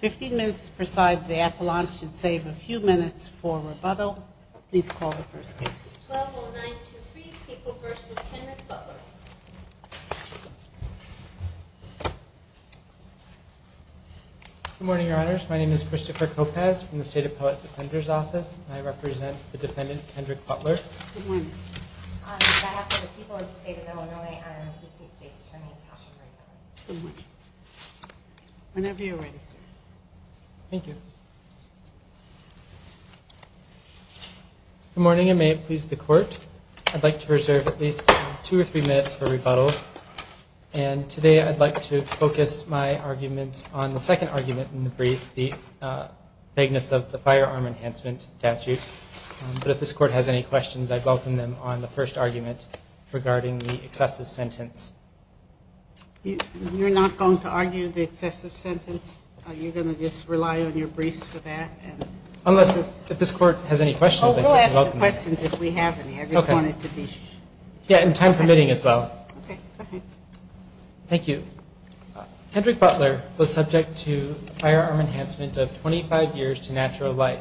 15 minutes preside the appalachian save a few minutes for rebuttal. Please call the first case Good morning, your honors. My name is Christopher Kopecz from the state of poets offenders office. I represent the defendant Kendrick Butler Good morning. I have for the people of the state of Illinois, I am an assistant state attorney at Tasha Freedman. Good morning. Whenever you're ready, sir. Thank you Good morning and may it please the court. I'd like to reserve at least two or three minutes for rebuttal and today I'd like to focus my arguments on the second argument in the brief the bigness of the firearm enhancement statute. But if this court has any questions, I'd welcome them on the first argument regarding the excessive sentence. You're not going to argue the excessive sentence? Are you going to just rely on your briefs for that? Unless if this court has any questions, I will ask questions if we have any. Yeah, and time permitting as well. Okay. Thank you. Kendrick Butler was subject to firearm enhancement of 25 years to natural life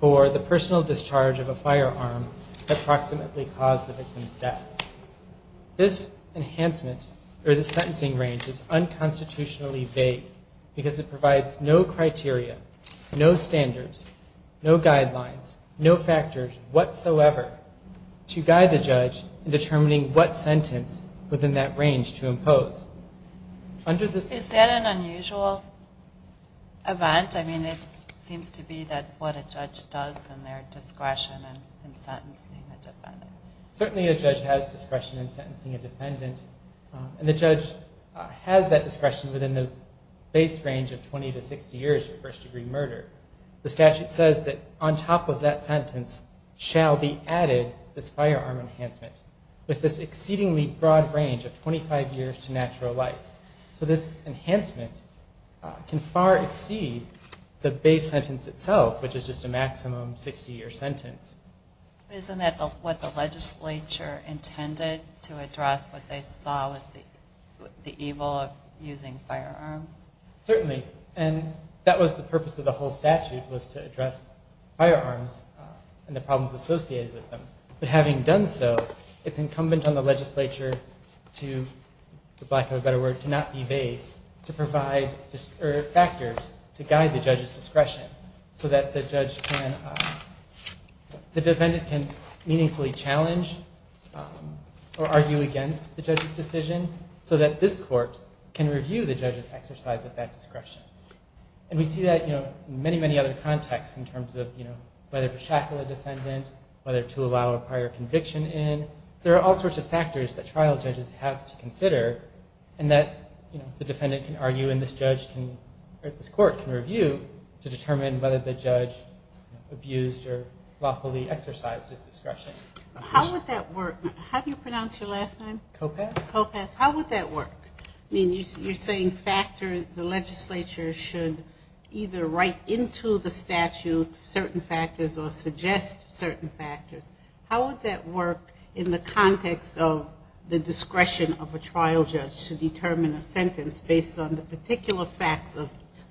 for the personal discharge of a firearm that approximately caused the victim's death. This enhancement or the sentencing range is unconstitutionally vague because it provides no criteria, no standards, no guidelines, no factors whatsoever to guide the judge in determining what sentence within that range to impose. Is that an unusual event? I mean, it seems to be that's what a judge does in their discretion in sentencing a defendant. Certainly a judge has discretion in sentencing a defendant and the judge has that discretion within the base range of 20 to 60 years for first degree murder. The statute says that on top of that sentence shall be added this firearm enhancement with this exceedingly broad range of 25 years to natural life. So this enhancement can far exceed the base sentence itself, which is just a maximum 60 year sentence. Isn't that what the legislature intended to address what they saw with the evil of using firearms? Certainly. And that was the purpose of the whole statute was to address firearms and the problems associated with them. But having done so, it's incumbent on the legislature to, for lack of a better word, to not be vague, to provide factors to guide the judge's discretion so that the defendant can meaningfully challenge or argue against the judge's decision, so that this court can review the judge's exercise of that discretion. And we see that in many, many other contexts in terms of whether to shackle a defendant, whether to allow a prior conviction in. There are all sorts of factors that trial judges have to consider and that the defendant can argue and this judge can, or this court can review to determine whether the judge abused or lawfully exercised his discretion. How would that work? How do you pronounce your last name? Kopass. How would that work? I mean, you're saying factors the legislature should either write into the statute certain factors or suggest certain factors. How would that work in the context of the discretion of a trial judge to determine a sentence based on the particular facts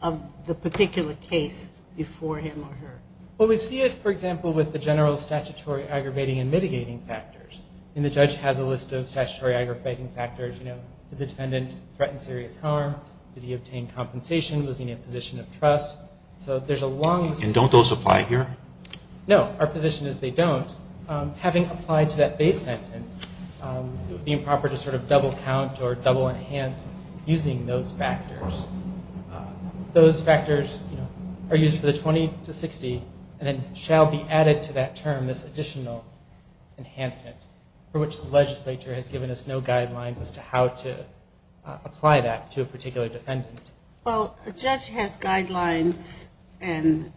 of the particular case before him or her? Well, we see it, for example, with the general statutory aggravating and mitigating factors. And the judge has a list of statutory aggravating factors, you know, did the defendant threaten serious harm? Did he obtain compensation? Was he in a position of trust? So there's a long list. And don't those apply here? No, our position is they don't. Having applied to that base sentence, it would be improper to sort of double count or double enhance using those factors. Those factors are used for the 20 to 60 and then shall be added to that term, this additional enhancement for which the legislature has given us no guidelines as to how to apply that to a particular defendant. Well, a judge has guidelines and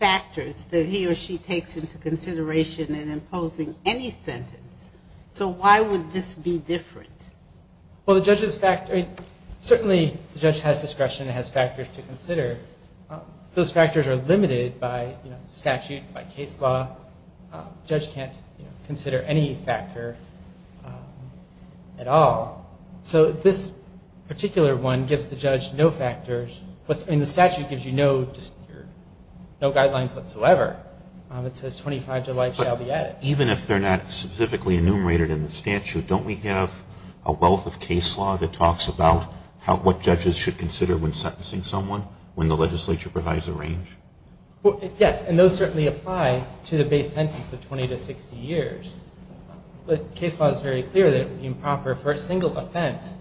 factors that he or she takes into consideration in imposing any sentence. So why would this be different? Well, the judge's fact, certainly the judge has discretion, has factors to consider. Those factors are limited by statute, by case law. Judge can't consider any factor at all. So this particular one gives the judge no factors. What's in the statute gives you no, just no guidelines whatsoever. It says 25 to life shall be added. Even if they're not specifically enumerated in the statute, don't we have a wealth of case law that talks about what judges should consider when sentencing someone when the legislature provides a range? Well, yes. And those certainly apply to the base sentence of 20 to 60 years. But case law is very clear that it would be improper for a single offense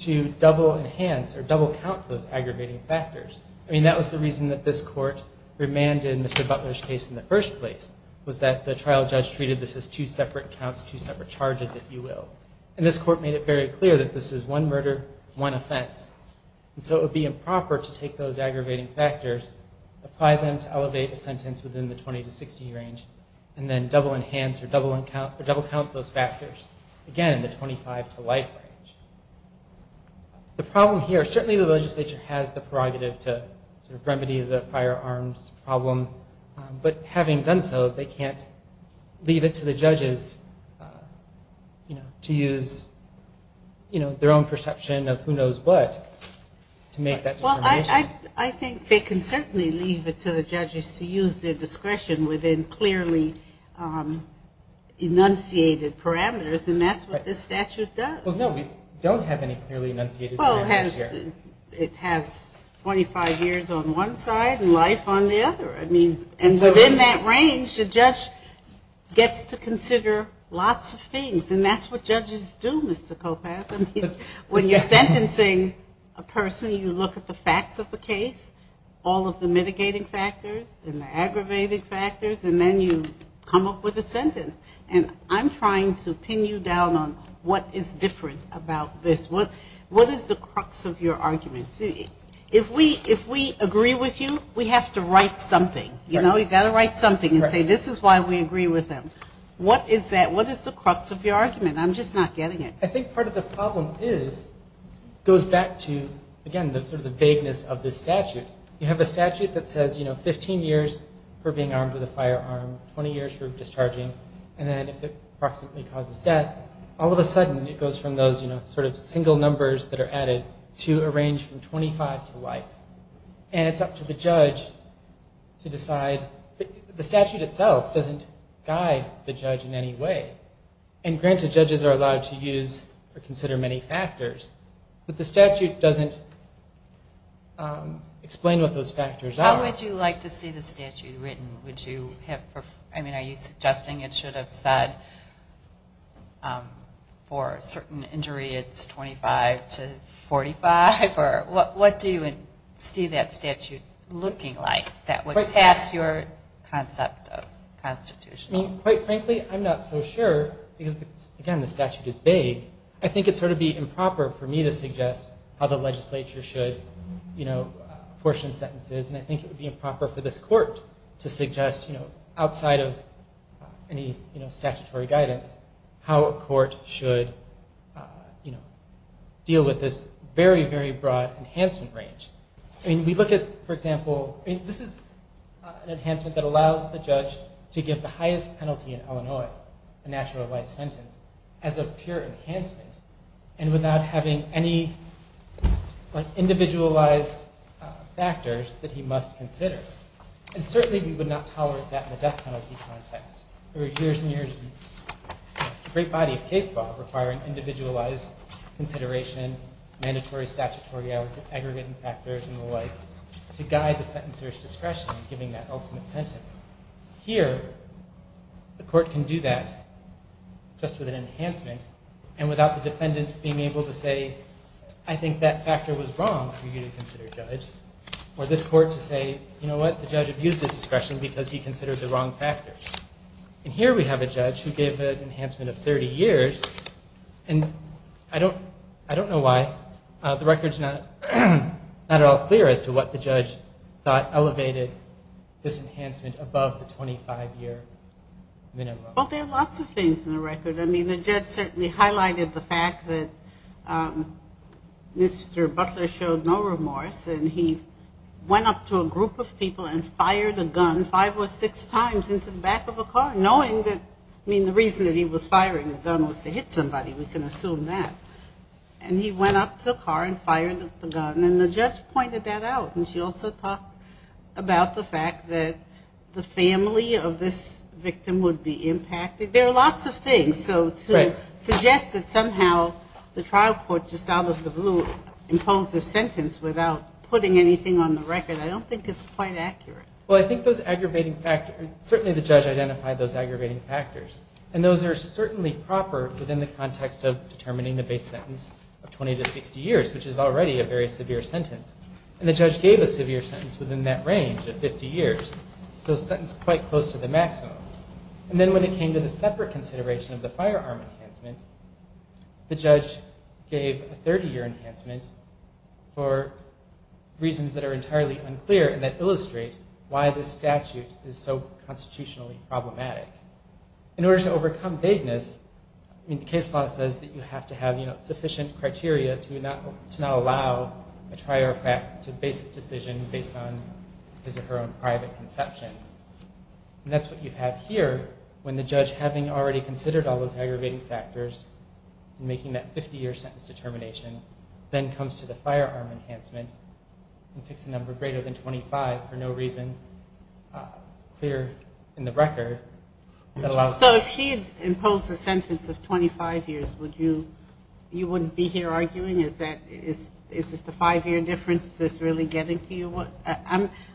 to double enhance or double count those aggravating factors. I mean, that was the reason that this court remanded Mr. Butler's case in the first place, was that the trial judge treated this as two separate counts, two separate charges, if you will. And this court made it very clear that this is one murder, one offense. And so it would be improper to take those aggravating factors, apply them to elevate a sentence within the 20 to 60 range, and then double enhance or double count those factors. Again, the 25 to life range. The problem here, certainly the legislature has the prerogative to remedy the firearms problem. But having done so, they can't leave it to the judges, you know, to use, you know, their own perception of who knows what to make that determination. Well, I think they can certainly leave it to the judges to use their discretion within clearly enunciated parameters. And that's what this statute does. Well, no, we don't have any clearly enunciated parameters here. Well, it has 25 years on one side and life on the other. I mean, and within that range, the judge gets to consider lots of things. And that's what judges do, Mr. Kopass. I mean, when you're sentencing a person, you look at the facts of the case, all of the mitigating factors and the aggravating factors, and then you come up with a sentence. And I'm trying to pin you down on what is different about this. What is the crux of your argument? If we agree with you, we have to write something, you know, you've got to write something and say, this is why we agree with them. What is that? What is the crux of your argument? I'm just not getting it. I think part of the problem is, goes back to, again, the vagueness of this statute. You have a statute that says, you know, 15 years for being armed with a firearm, 20 years for discharging. And then if it approximately causes death, all of a sudden it goes from those, you know, sort of single numbers that are added to a range from 25 to life. And it's up to the judge to decide. The statute itself doesn't guide the judge in any way. And granted, judges are allowed to use or consider many factors, but the statute doesn't explain what those factors are. How would you like to see the statute written? Would you have, I mean, are you suggesting it should have said, for certain injury, it's 25 to 45? Or what do you see that statute looking like that would pass your concept of constitutional? I mean, quite frankly, I'm not so sure, because again, the statute is vague. I think it'd sort of be improper for me to suggest how the legislature should, you know, portion sentences. And I think it would be improper for this court to suggest, you know, outside of any, you know, statutory guidance, how a court should, you know, deal with this very, very broad enhancement range. I mean, we look at, for example, this is an enhancement that allows the judge to give the highest penalty in Illinois, a natural life sentence, as a pure enhancement. And without having any, like, individualized factors that he must consider. And certainly, we would not tolerate that in the death penalty context. There are years and years, a great body of case law requiring individualized consideration, mandatory statutory aggregating factors and the like to guide the sentencer's discretion in giving that ultimate sentence. Here, the court can do that just with an enhancement. And without the defendant being able to say, I think that factor was wrong for you to consider, judge. Or this court to say, you know what, the judge abused his discretion because he considered the wrong factor. And here we have a judge who gave an enhancement of 30 years. And I don't, I don't know why the record's not at all clear as to what the judge thought elevated this enhancement above the 25-year minimum. Well, there are lots of things in the record. I mean, the judge certainly highlighted the fact that Mr. Butler showed no remorse. And he went up to a group of people and fired a gun five or six times into the back of a car, knowing that, I mean, the reason that he was firing the gun was to hit somebody. We can assume that. And he went up to the car and fired the gun. And the judge pointed that out. And she also talked about the fact that the family of this victim would be impacted. There are lots of things. So to suggest that somehow the trial court just out of the blue imposed a sentence without putting anything on the record, I don't think is quite accurate. Well, I think those aggravating factors, certainly the judge identified those aggravating factors. And those are certainly proper within the context of determining the base sentence of 20 to 60 years, which is already a very severe sentence. And the judge gave a severe sentence within that range of 50 years. So a sentence quite close to the maximum. And then when it came to the separate consideration of the firearm enhancement, the judge gave a 30-year enhancement for reasons that are entirely unclear and that illustrate why this statute is so constitutionally problematic. In order to overcome vagueness, I mean, the case law says that you have to have, you know, a basis decision based on his or her own private conceptions. And that's what you have here when the judge, having already considered all those aggravating factors and making that 50-year sentence determination, then comes to the firearm enhancement and picks a number greater than 25 for no reason clear in the record. So if she had imposed a sentence of 25 years, would you, you wouldn't be here arguing, is that, is it the five-year difference that's really getting to you?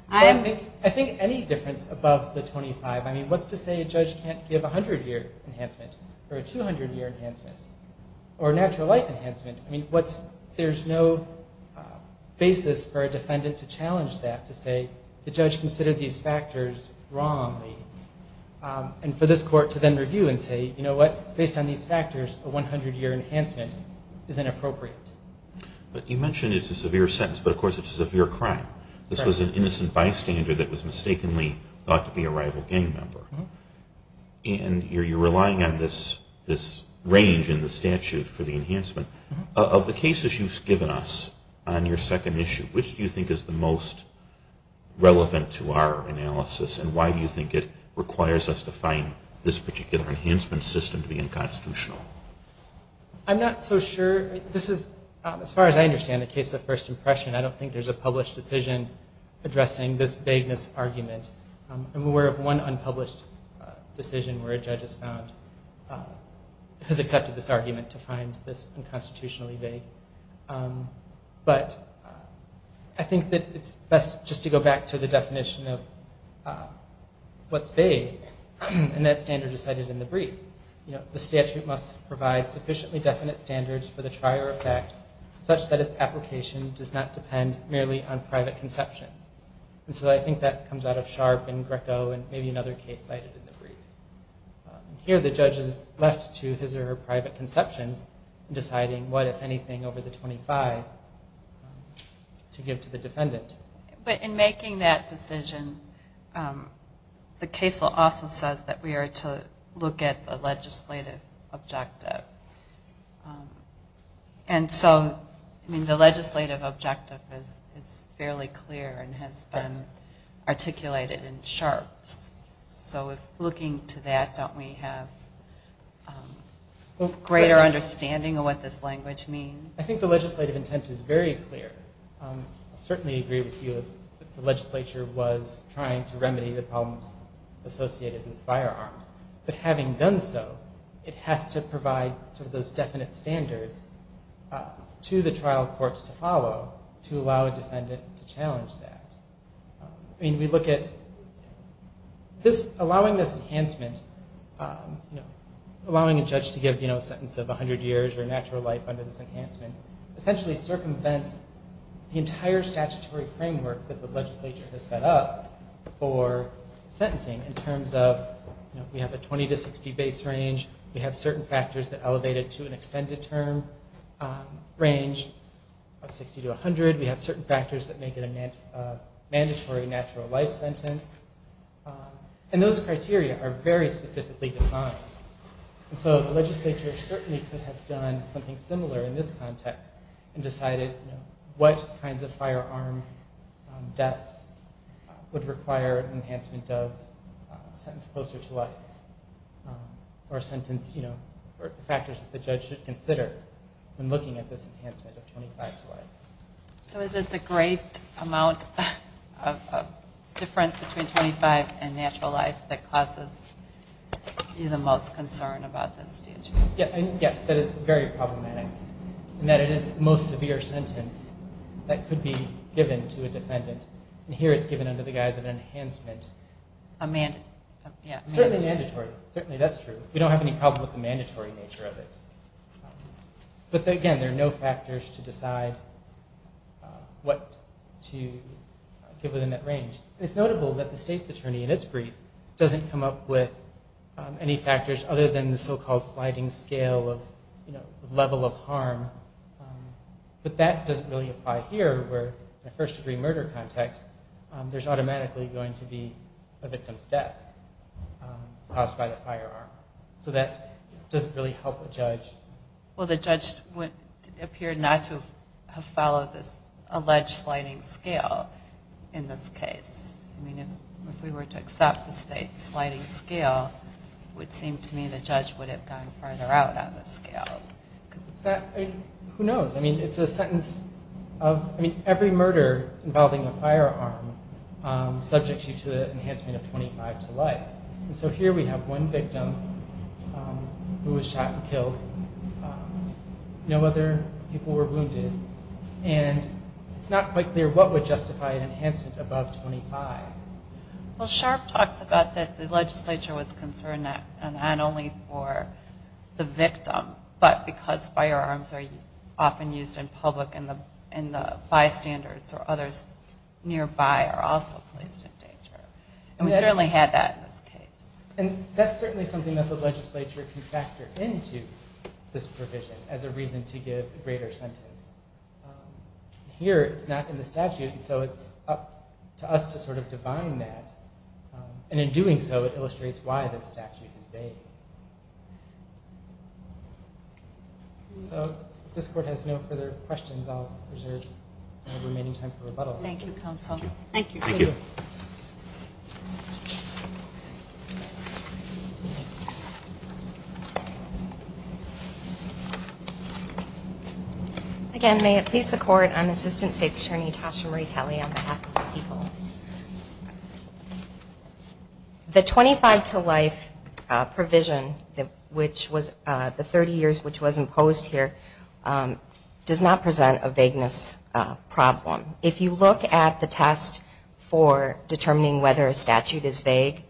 I think any difference above the 25, I mean, what's to say a judge can't give a 100-year enhancement or a 200-year enhancement or a natural life enhancement? I mean, what's, there's no basis for a defendant to challenge that, to say the judge considered these factors wrongly. And for this court to then review and say, you know what, based on these factors, a 100-year enhancement is inappropriate. But you mentioned it's a severe sentence, but of course it's a severe crime. This was an innocent bystander that was mistakenly thought to be a rival gang member. And you're relying on this range in the statute for the enhancement. Of the cases you've given us on your second issue, which do you think is the most relevant to our analysis and why do you think it requires us to find this particular enhancement system to be unconstitutional? I'm not so sure. This is, as far as I understand, a case of first impression. I don't think there's a published decision addressing this vagueness argument. I'm aware of one unpublished decision where a judge has found, has accepted this argument to find this unconstitutionally vague. But I think that it's best just to go back to the definition of what's vague and that standard is cited in the brief. You know, the statute must provide sufficiently definite standards for the trier effect such that its application does not depend merely on private conceptions. And so I think that comes out of Sharp and Greco and maybe another case cited in the brief. Here the judge is left to his or her private conceptions in deciding what, But in making that decision, the case law also says that we are to look at the legislative objective. And so, I mean, the legislative objective is fairly clear and has been articulated in Sharp. So looking to that, don't we have greater understanding of what this language means? I think the legislative intent is very clear. I certainly agree with you that the legislature was trying to remedy the problems associated with firearms. But having done so, it has to provide sort of those definite standards to the trial courts to follow to allow a defendant to challenge that. I mean, we look at, this, allowing this enhancement, you know, allowing a judge to give, you know, a sentence of 100 years or natural life under this enhancement essentially circumvents the entire statutory framework that the legislature has set up for sentencing in terms of, you know, we have a 20 to 60 base range. We have certain factors that elevate it to an extended term range of 60 to 100. We have certain factors that make it a mandatory natural life sentence. And those criteria are very specifically defined. So the legislature certainly could have done something similar in this context and decided what kinds of firearm deaths would require an enhancement of a sentence closer to life or a sentence, you know, or factors that the judge should consider when looking at this enhancement of 25 to life. So is it the great amount of difference between 25 and natural life that causes you the most concern about this, D.H.? Yes, that is very problematic in that it is the most severe sentence that could be given to a defendant. And here it's given under the guise of enhancement. A mandatory, yeah. Certainly mandatory, certainly that's true. We don't have any problem with the mandatory nature of it. But again, there are no factors to decide what to give within that range. It's notable that the state's attorney in its brief doesn't come up with any factors other than the so-called sliding scale of, you know, level of harm. But that doesn't really apply here where in a first degree murder context there's automatically going to be a victim's death caused by the firearm. So that doesn't really help a judge. Well, the judge would appear not to have followed this alleged sliding scale in this case. I mean, if we were to accept the state's sliding scale, it would seem to me the judge would have gone further out on the scale. Is that, who knows? I mean, it's a sentence of, I mean, every murder involving a firearm subjects you to the enhancement of 25 to life. So here we have one victim who was shot and killed. No other people were wounded. And it's not quite clear what would justify an enhancement above 25. Well, Sharp talks about that the legislature was concerned that not only for the victim, but because firearms are often used in public and the bystanders or others nearby are also placed in danger. And we certainly had that in this case. And that's certainly something that the legislature can factor into this provision as a reason to give a greater sentence. Here, it's not in the statute, and so it's up to us to sort of define that. And in doing so, it illustrates why this statute is vague. So if this court has no further questions, I'll reserve the remaining time for rebuttal. Thank you, counsel. Thank you. Thank you. Thank you. Again, may it please the court, I'm Assistant States Attorney Tasha Marie Kelly on behalf of the people. The 25 to life provision, which was the 30 years which was imposed here, does not present a vagueness problem. If you look at the test for determining whether a statute is vague,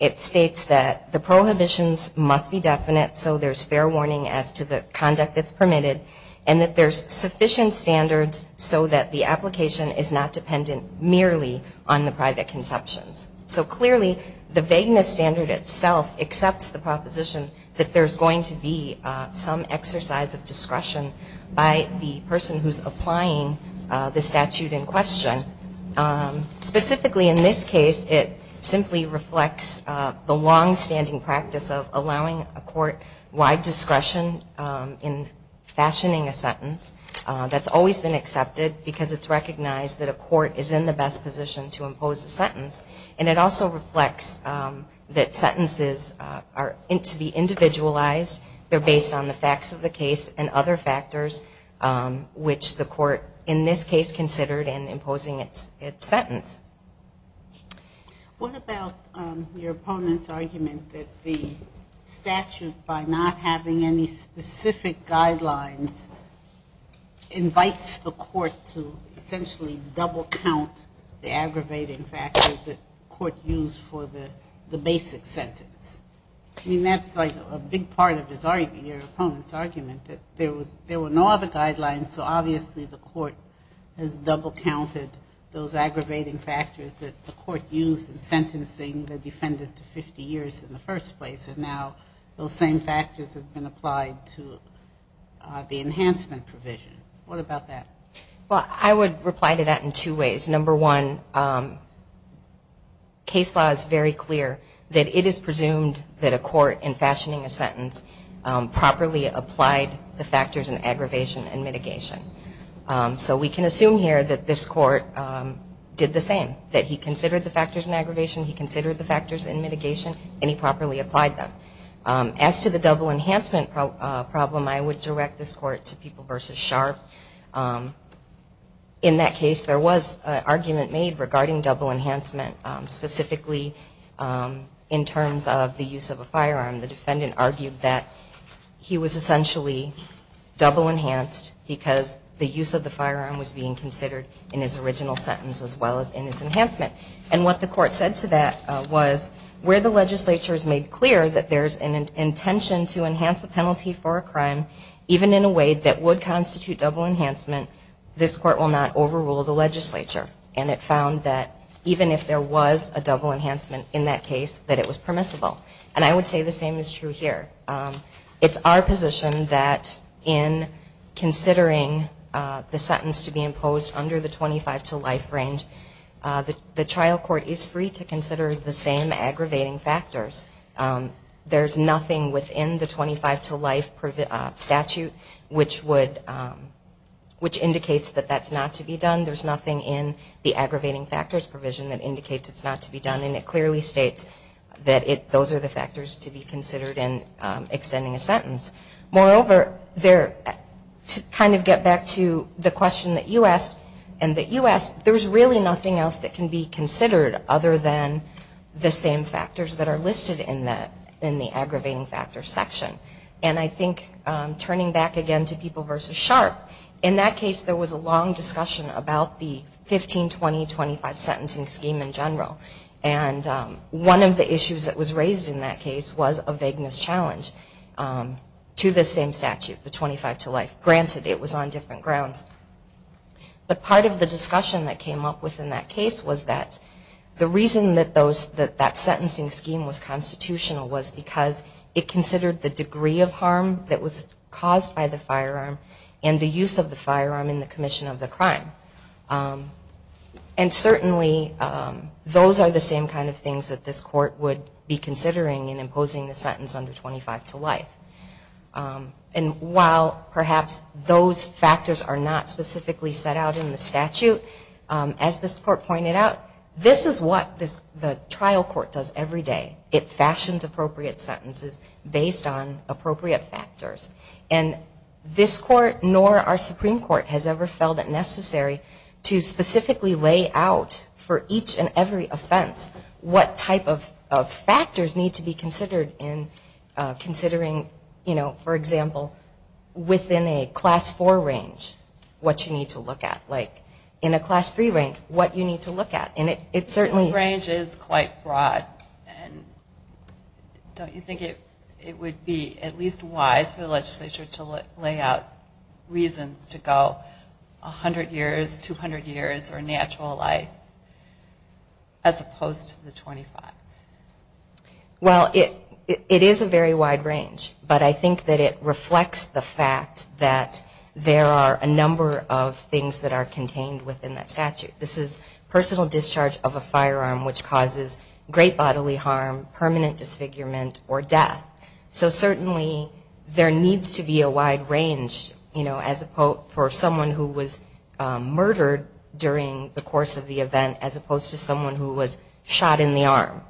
it states that the prohibitions must be definite, so there's fair warning as to the conduct that's permitted, and that there's sufficient standards so that the application is not dependent merely on the private conceptions. So clearly, the vagueness standard itself accepts the proposition that there's going to be some exercise of discretion by the person who's applying the statute in question. Specifically, in this case, it simply reflects the longstanding practice of allowing a court wide discretion in fashioning a sentence. That's always been accepted, because it's recognized that a court is in the best position to impose a sentence. And it also reflects that sentences are to be individualized. They're based on the facts of the case and other factors, which the court, in this case, considered in imposing its sentence. What about your opponent's argument that the statute, by not having any specific guidelines, invites the court to essentially double count the aggravating factors that court used for the basic sentence? I mean, that's a big part of your opponent's argument, that there were no other guidelines, so obviously the court has double counted those aggravating factors that the court used in sentencing the defendant to 50 years in the first place. And now, those same factors have been applied to the enhancement provision. What about that? Well, I would reply to that in two ways. Number one, case law is very clear that it is presumed that a court, in fashioning a sentence, properly applied the factors in aggravation and mitigation. So we can assume here that this court did the same, that he considered the factors in aggravation, he considered the factors in mitigation, and he properly applied them. As to the double enhancement problem, I would direct this court to People v. Sharp. In that case, there was an argument made regarding double enhancement, specifically in terms of the use of a firearm. The defendant argued that he was essentially double enhanced because the use of the firearm was being considered in his original sentence as well as in his enhancement. And what the court said to that was, where the legislature has made clear that there's an intention to enhance a penalty for a crime, even in a way that would constitute double enhancement, this court will not overrule the legislature. And it found that even if there was a double enhancement in that case, that it was permissible. And I would say the same is true here. It's our position that in considering the sentence to be imposed under the 25 to life range, the trial court is free to consider the same aggravating factors. There's nothing within the 25 to life statute which would, which indicates that that's not to be done. There's nothing in the aggravating factors provision that indicates it's not to be done. And it clearly states that it, those are the factors to be considered in extending a sentence. Moreover, there, to kind of get back to the question that you asked and that you asked, there's really nothing else that can be considered other than the same factors that are listed in that, in the aggravating factors section. And I think turning back again to people versus Sharp, in that case there was a long discussion about the 15, 20, 25 sentencing scheme in general. And one of the issues that was raised in that case was a vagueness challenge to the same statute, the 25 to life. Granted, it was on different grounds. But part of the discussion that came up within that case was that the reason that those, that that sentencing scheme was constitutional was because it considered the degree of harm that was caused by the firearm and the use of the firearm in the commission of the crime. And certainly, those are the same kind of things that this court would be considering in imposing the sentence under 25 to life. And while perhaps those factors are not specifically set out in the statute, as this court pointed out, this is what the trial court does every day. It fashions appropriate sentences based on appropriate factors. And this court, nor our Supreme Court, has ever felt it necessary to specifically lay out for each and every offense what type of factors need to be considered in considering, you know, for example, within a class four range, what you need to look at. Like, in a class three range, what you need to look at. And it certainly. This range is quite broad. And don't you think it would be at least wise for the legislature to lay out reasons to go 100 years, 200 years, or natural life, as opposed to the 25? Well, it is a very wide range. But I think that it reflects the fact that there are a number of things that are contained within that statute. This is personal discharge of a firearm, which causes great bodily harm, permanent disfigurement, or death. So certainly, there needs to be a wide range, you know, for someone who was murdered during the course of the event, as opposed to someone who was shot in the arm.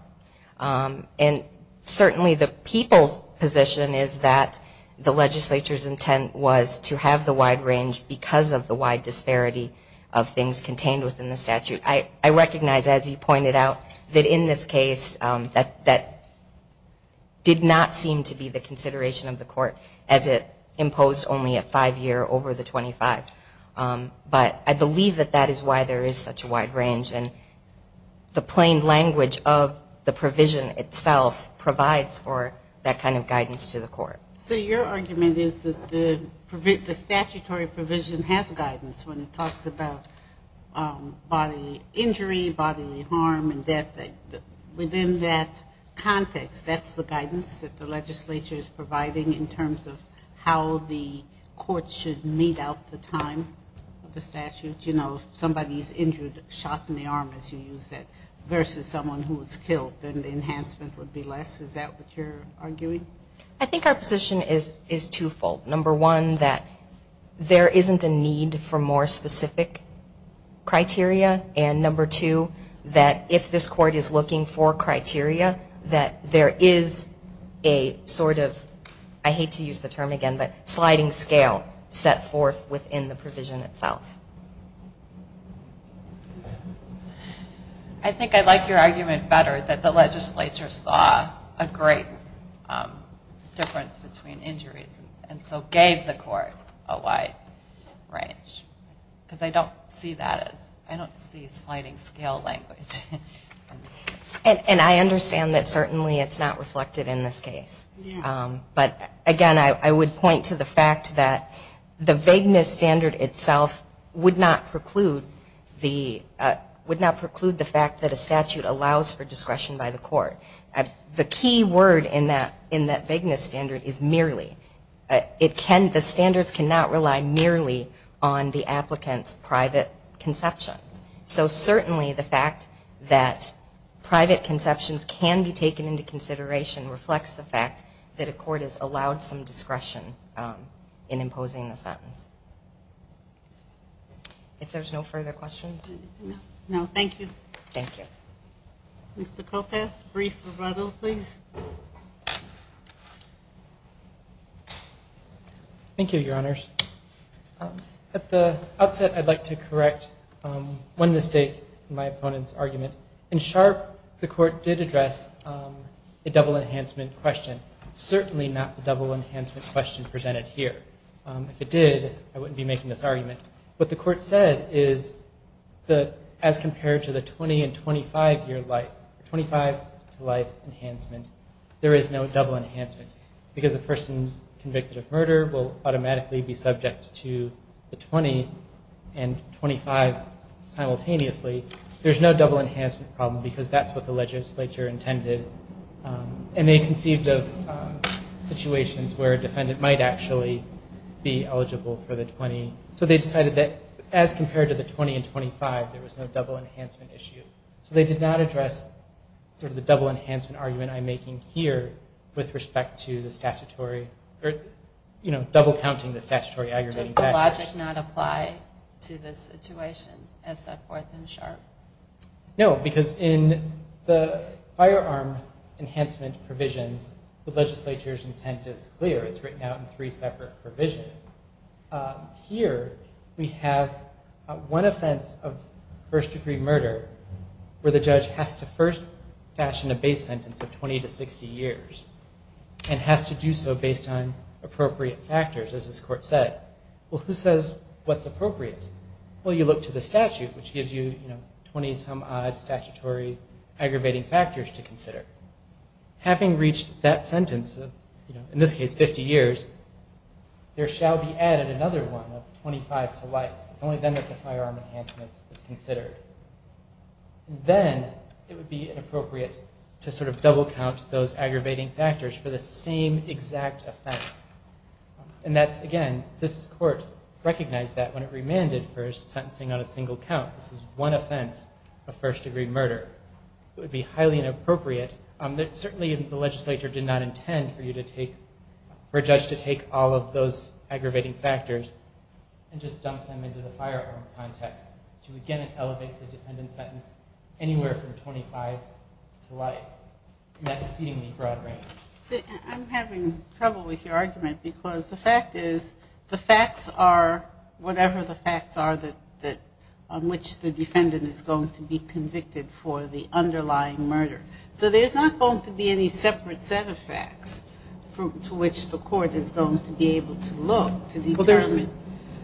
And certainly, the people's position is that the legislature's intent was to have the wide range because of the wide disparity of things contained within the statute. I recognize, as you pointed out, that in this case, that did not seem to be the consideration of the court, as it imposed only a five year over the 25. But I believe that that is why there is such a wide range. And the plain language of the provision itself provides for that kind of guidance to the court. So your argument is that the statutory provision has guidance when it talks about bodily injury, bodily harm, and death. Within that context, that's the guidance that the legislature is providing in terms of how the court should mete out the time of the statute. You know, if somebody's injured, shot in the arm, as you use that, versus someone who was killed, then the enhancement would be less. Is that what you're arguing? I think our position is twofold. Number one, that there isn't a need for more specific criteria. And number two, that if this court is looking for criteria, that there is a sort of, I hate to use the term again, but sliding scale set forth within the provision itself. I think I like your argument better, that the legislature saw a great difference between injuries, and so gave the court a wide range. Because I don't see that as, I don't see sliding scale language. And I understand that certainly it's not reflected in this case. But again, I would point to the fact that the vagueness standard itself would not preclude the, would not preclude the fact that a statute allows for discretion by the court. The key word in that vagueness standard is merely. It can, the standards cannot rely merely on the applicant's private conceptions. So certainly the fact that private conceptions can be taken into consideration reflects the fact that a court has allowed some discretion in imposing the sentence. If there's no further questions. No, thank you. Thank you. Mr. Kopass, brief rebuttal please. Thank you, your honors. In Sharpe, the court did address a double enhancement question. Certainly not the double enhancement question presented here. If it did, I wouldn't be making this argument. What the court said is that as compared to the 20 and 25 year life, 25 to life enhancement, there is no double enhancement. Because a person convicted of murder will automatically be subject to the 20 and 25 simultaneously, there's no double enhancement problem because that's what the legislature intended. And they conceived of situations where a defendant might actually be eligible for the 20. So they decided that as compared to the 20 and 25, there was no double enhancement issue. So they did not address sort of the double enhancement argument I'm making here with respect to the statutory or, you know, double counting the statutory aggravating facts. Does that logic not apply to this situation as set forth in Sharpe? No, because in the firearm enhancement provisions, the legislature's intent is clear. It's written out in three separate provisions. Here, we have one offense of first degree murder where the judge has to first fashion a base sentence of 20 to 60 years and has to do so based on appropriate factors, as this court said. Well, who says what's appropriate? Well, you look to the statute, which gives you, you know, 20-some-odd statutory aggravating factors to consider. Having reached that sentence of, you know, in this case, 50 years, there shall be added another one of 25 to life. It's only then that the firearm enhancement is considered. Then it would be inappropriate to sort of double count those aggravating factors for the same exact offense. And that's, again, this court recognized that when it remanded for sentencing on a single count. This is one offense of first degree murder. It would be highly inappropriate. Certainly, the legislature did not intend for you to take, for a judge to take all of those aggravating factors and just dump them into the firearm context to, again, elevate the defendant's sentence anywhere from 25 to life, in that exceedingly broad range. I'm having trouble with your argument because the fact is, the facts are whatever the facts are that, on which the defendant is going to be convicted for the underlying murder. So there's not going to be any separate set of facts to which the court is going to be able to look to determine.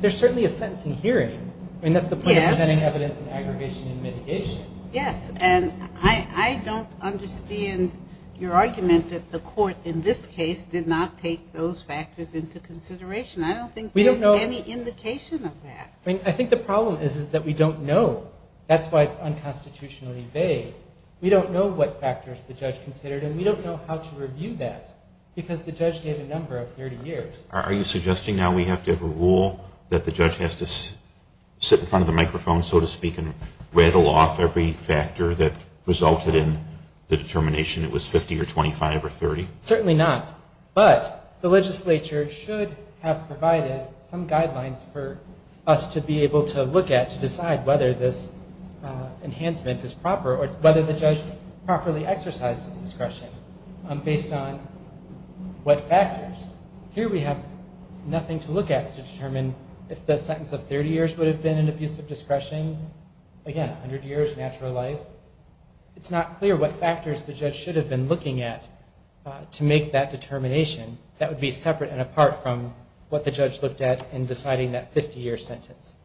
There's certainly a sentence in hearing. I mean, that's the point of presenting evidence in aggravation and mitigation. Yes. And I don't understand your argument that the court, in this case, did not take those factors into consideration. I don't think there's any indication of that. I think the problem is that we don't know. That's why it's unconstitutionally vague. We don't know what factors the judge considered. And we don't know how to review that. Because the judge gave a number of 30 years. Are you suggesting now we have to have a rule that the judge has to sit in front of the microphone, so to speak, and rattle off every factor that resulted in the determination? It was 50 or 25 or 30? Certainly not. But the legislature should have provided some guidelines for us to be able to look at to decide whether this enhancement is proper or whether the judge properly exercised his discretion based on what factors. Here we have nothing to look at to determine if the sentence of 30 years would have been an abuse of discretion. Again, 100 years, natural life. It's not clear what factors the judge should have been looking at to make that determination. That would be separate and apart from what the judge looked at in deciding that 50-year sentence.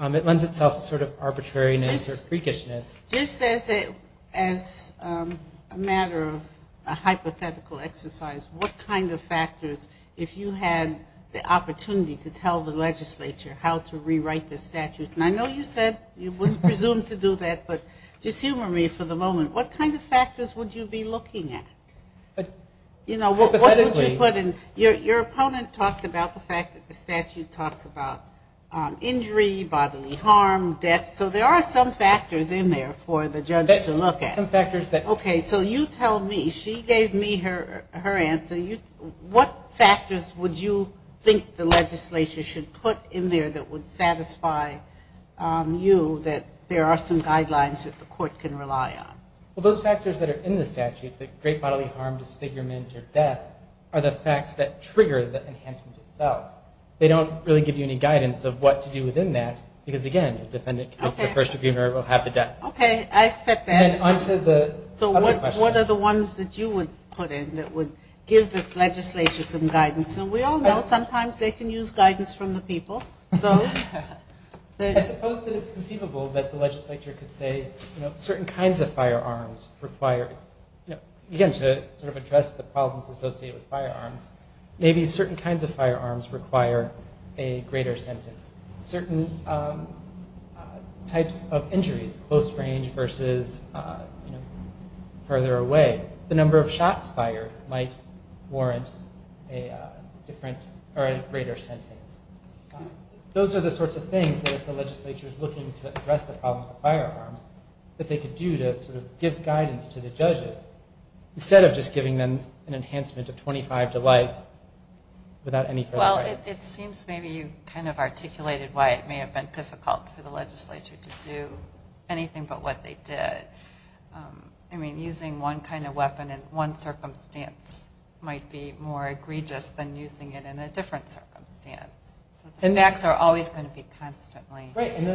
It lends itself to sort of arbitrariness or freakishness. Just as a matter of a hypothetical exercise, what kind of factors, if you had the opportunity to tell the legislature how to rewrite the statute, and I know you said you wouldn't presume to do that, but just humor me for the moment. What kind of factors would you be looking at? You know, what would you put in? Your opponent talked about the fact that the statute talks about injury, bodily harm, death, so there are some factors in there for the judge to look at. Some factors that. Okay, so you tell me. She gave me her answer. What factors would you think the legislature should put in there that would satisfy you that there are some guidelines that the court can rely on? Well, those factors that are in the statute, like great bodily harm, disfigurement, or death, are the facts that trigger the enhancement itself. They don't really give you any guidance of what to do within that, because again, the defendant, the first degree murderer will have the death. Okay, I accept that. On to the other questions. I suppose that you would put in that would give this legislature some guidance. And we all know sometimes they can use guidance from the people. So- I suppose that it's conceivable that the legislature could say, you know, certain kinds of firearms require, you know, again to sort of address the problems associated with firearms, maybe certain kinds of firearms require a greater sentence. Certain types of injuries, close range versus, you know, the number of shots fired might warrant a different or a greater sentence. Those are the sorts of things that if the legislature is looking to address the problems of firearms, that they could do to sort of give guidance to the judges, instead of just giving them an enhancement of 25 to life without any further guidance. Well, it seems maybe you kind of articulated why it may have been difficult for the legislature to do anything but what they did. I mean, using one kind of weapon in one circumstance might be more egregious than using it in a different circumstance. The facts are always going to be constantly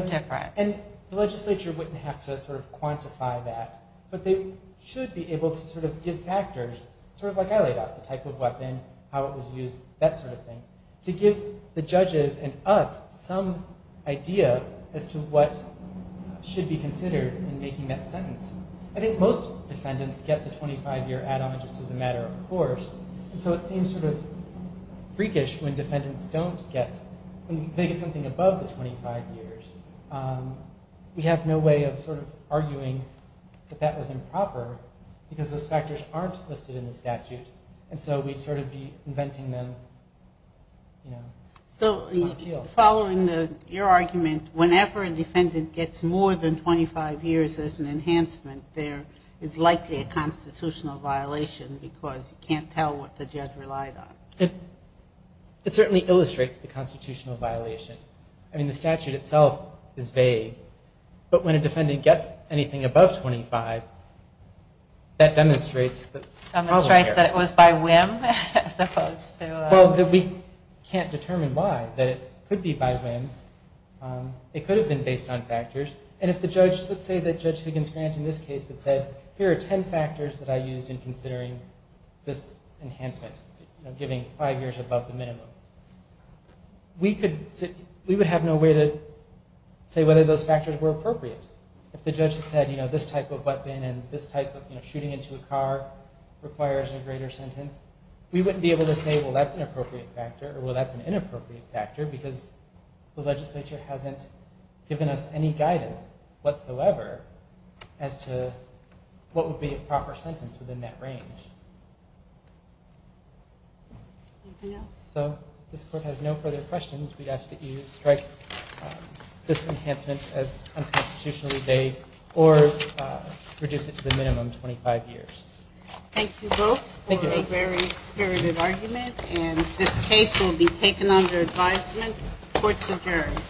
different. And the legislature wouldn't have to sort of quantify that. But they should be able to sort of give factors, sort of like I laid out, the type of weapon, how it was used, that sort of thing, to give the judges and us some idea as to what should be considered in making that sentence. I think most defendants get the 25-year add-on just as a matter of course. So it seems sort of freakish when defendants don't get, when they get something above the 25 years. We have no way of sort of arguing that that was improper because those factors aren't listed in the statute. And so we'd sort of be inventing them, you know, on a field. So following your argument, whenever a defendant gets more than 25 years as an enhancement, there is likely a constitutional violation because you can't tell what the judge relied on. It certainly illustrates the constitutional violation. I mean, the statute itself is vague. But when a defendant gets anything above 25, that demonstrates that... Demonstrates that it was by whim as opposed to... Well, that we can't determine why, that it could be by whim. It could have been based on factors. And if the judge, let's say that Judge Higgins Grant in this case had said, here are 10 factors that I used in considering this enhancement, giving five years above the minimum. We would have no way to say whether those factors were appropriate. If the judge had said, you know, this type of weapon and this type of, you know, shooting into a car requires a greater sentence, we wouldn't be able to say, well, that's an appropriate factor, or well, that's an inappropriate factor, because the legislature hasn't given us any guidance whatsoever as to what would be a proper sentence within that range. So this court has no further questions. We'd ask that you strike this enhancement as unconstitutionally vague or reduce it to the minimum 25 years. Thank you both for a very spirited argument. And this case will be taken under advisement. Court's adjourned.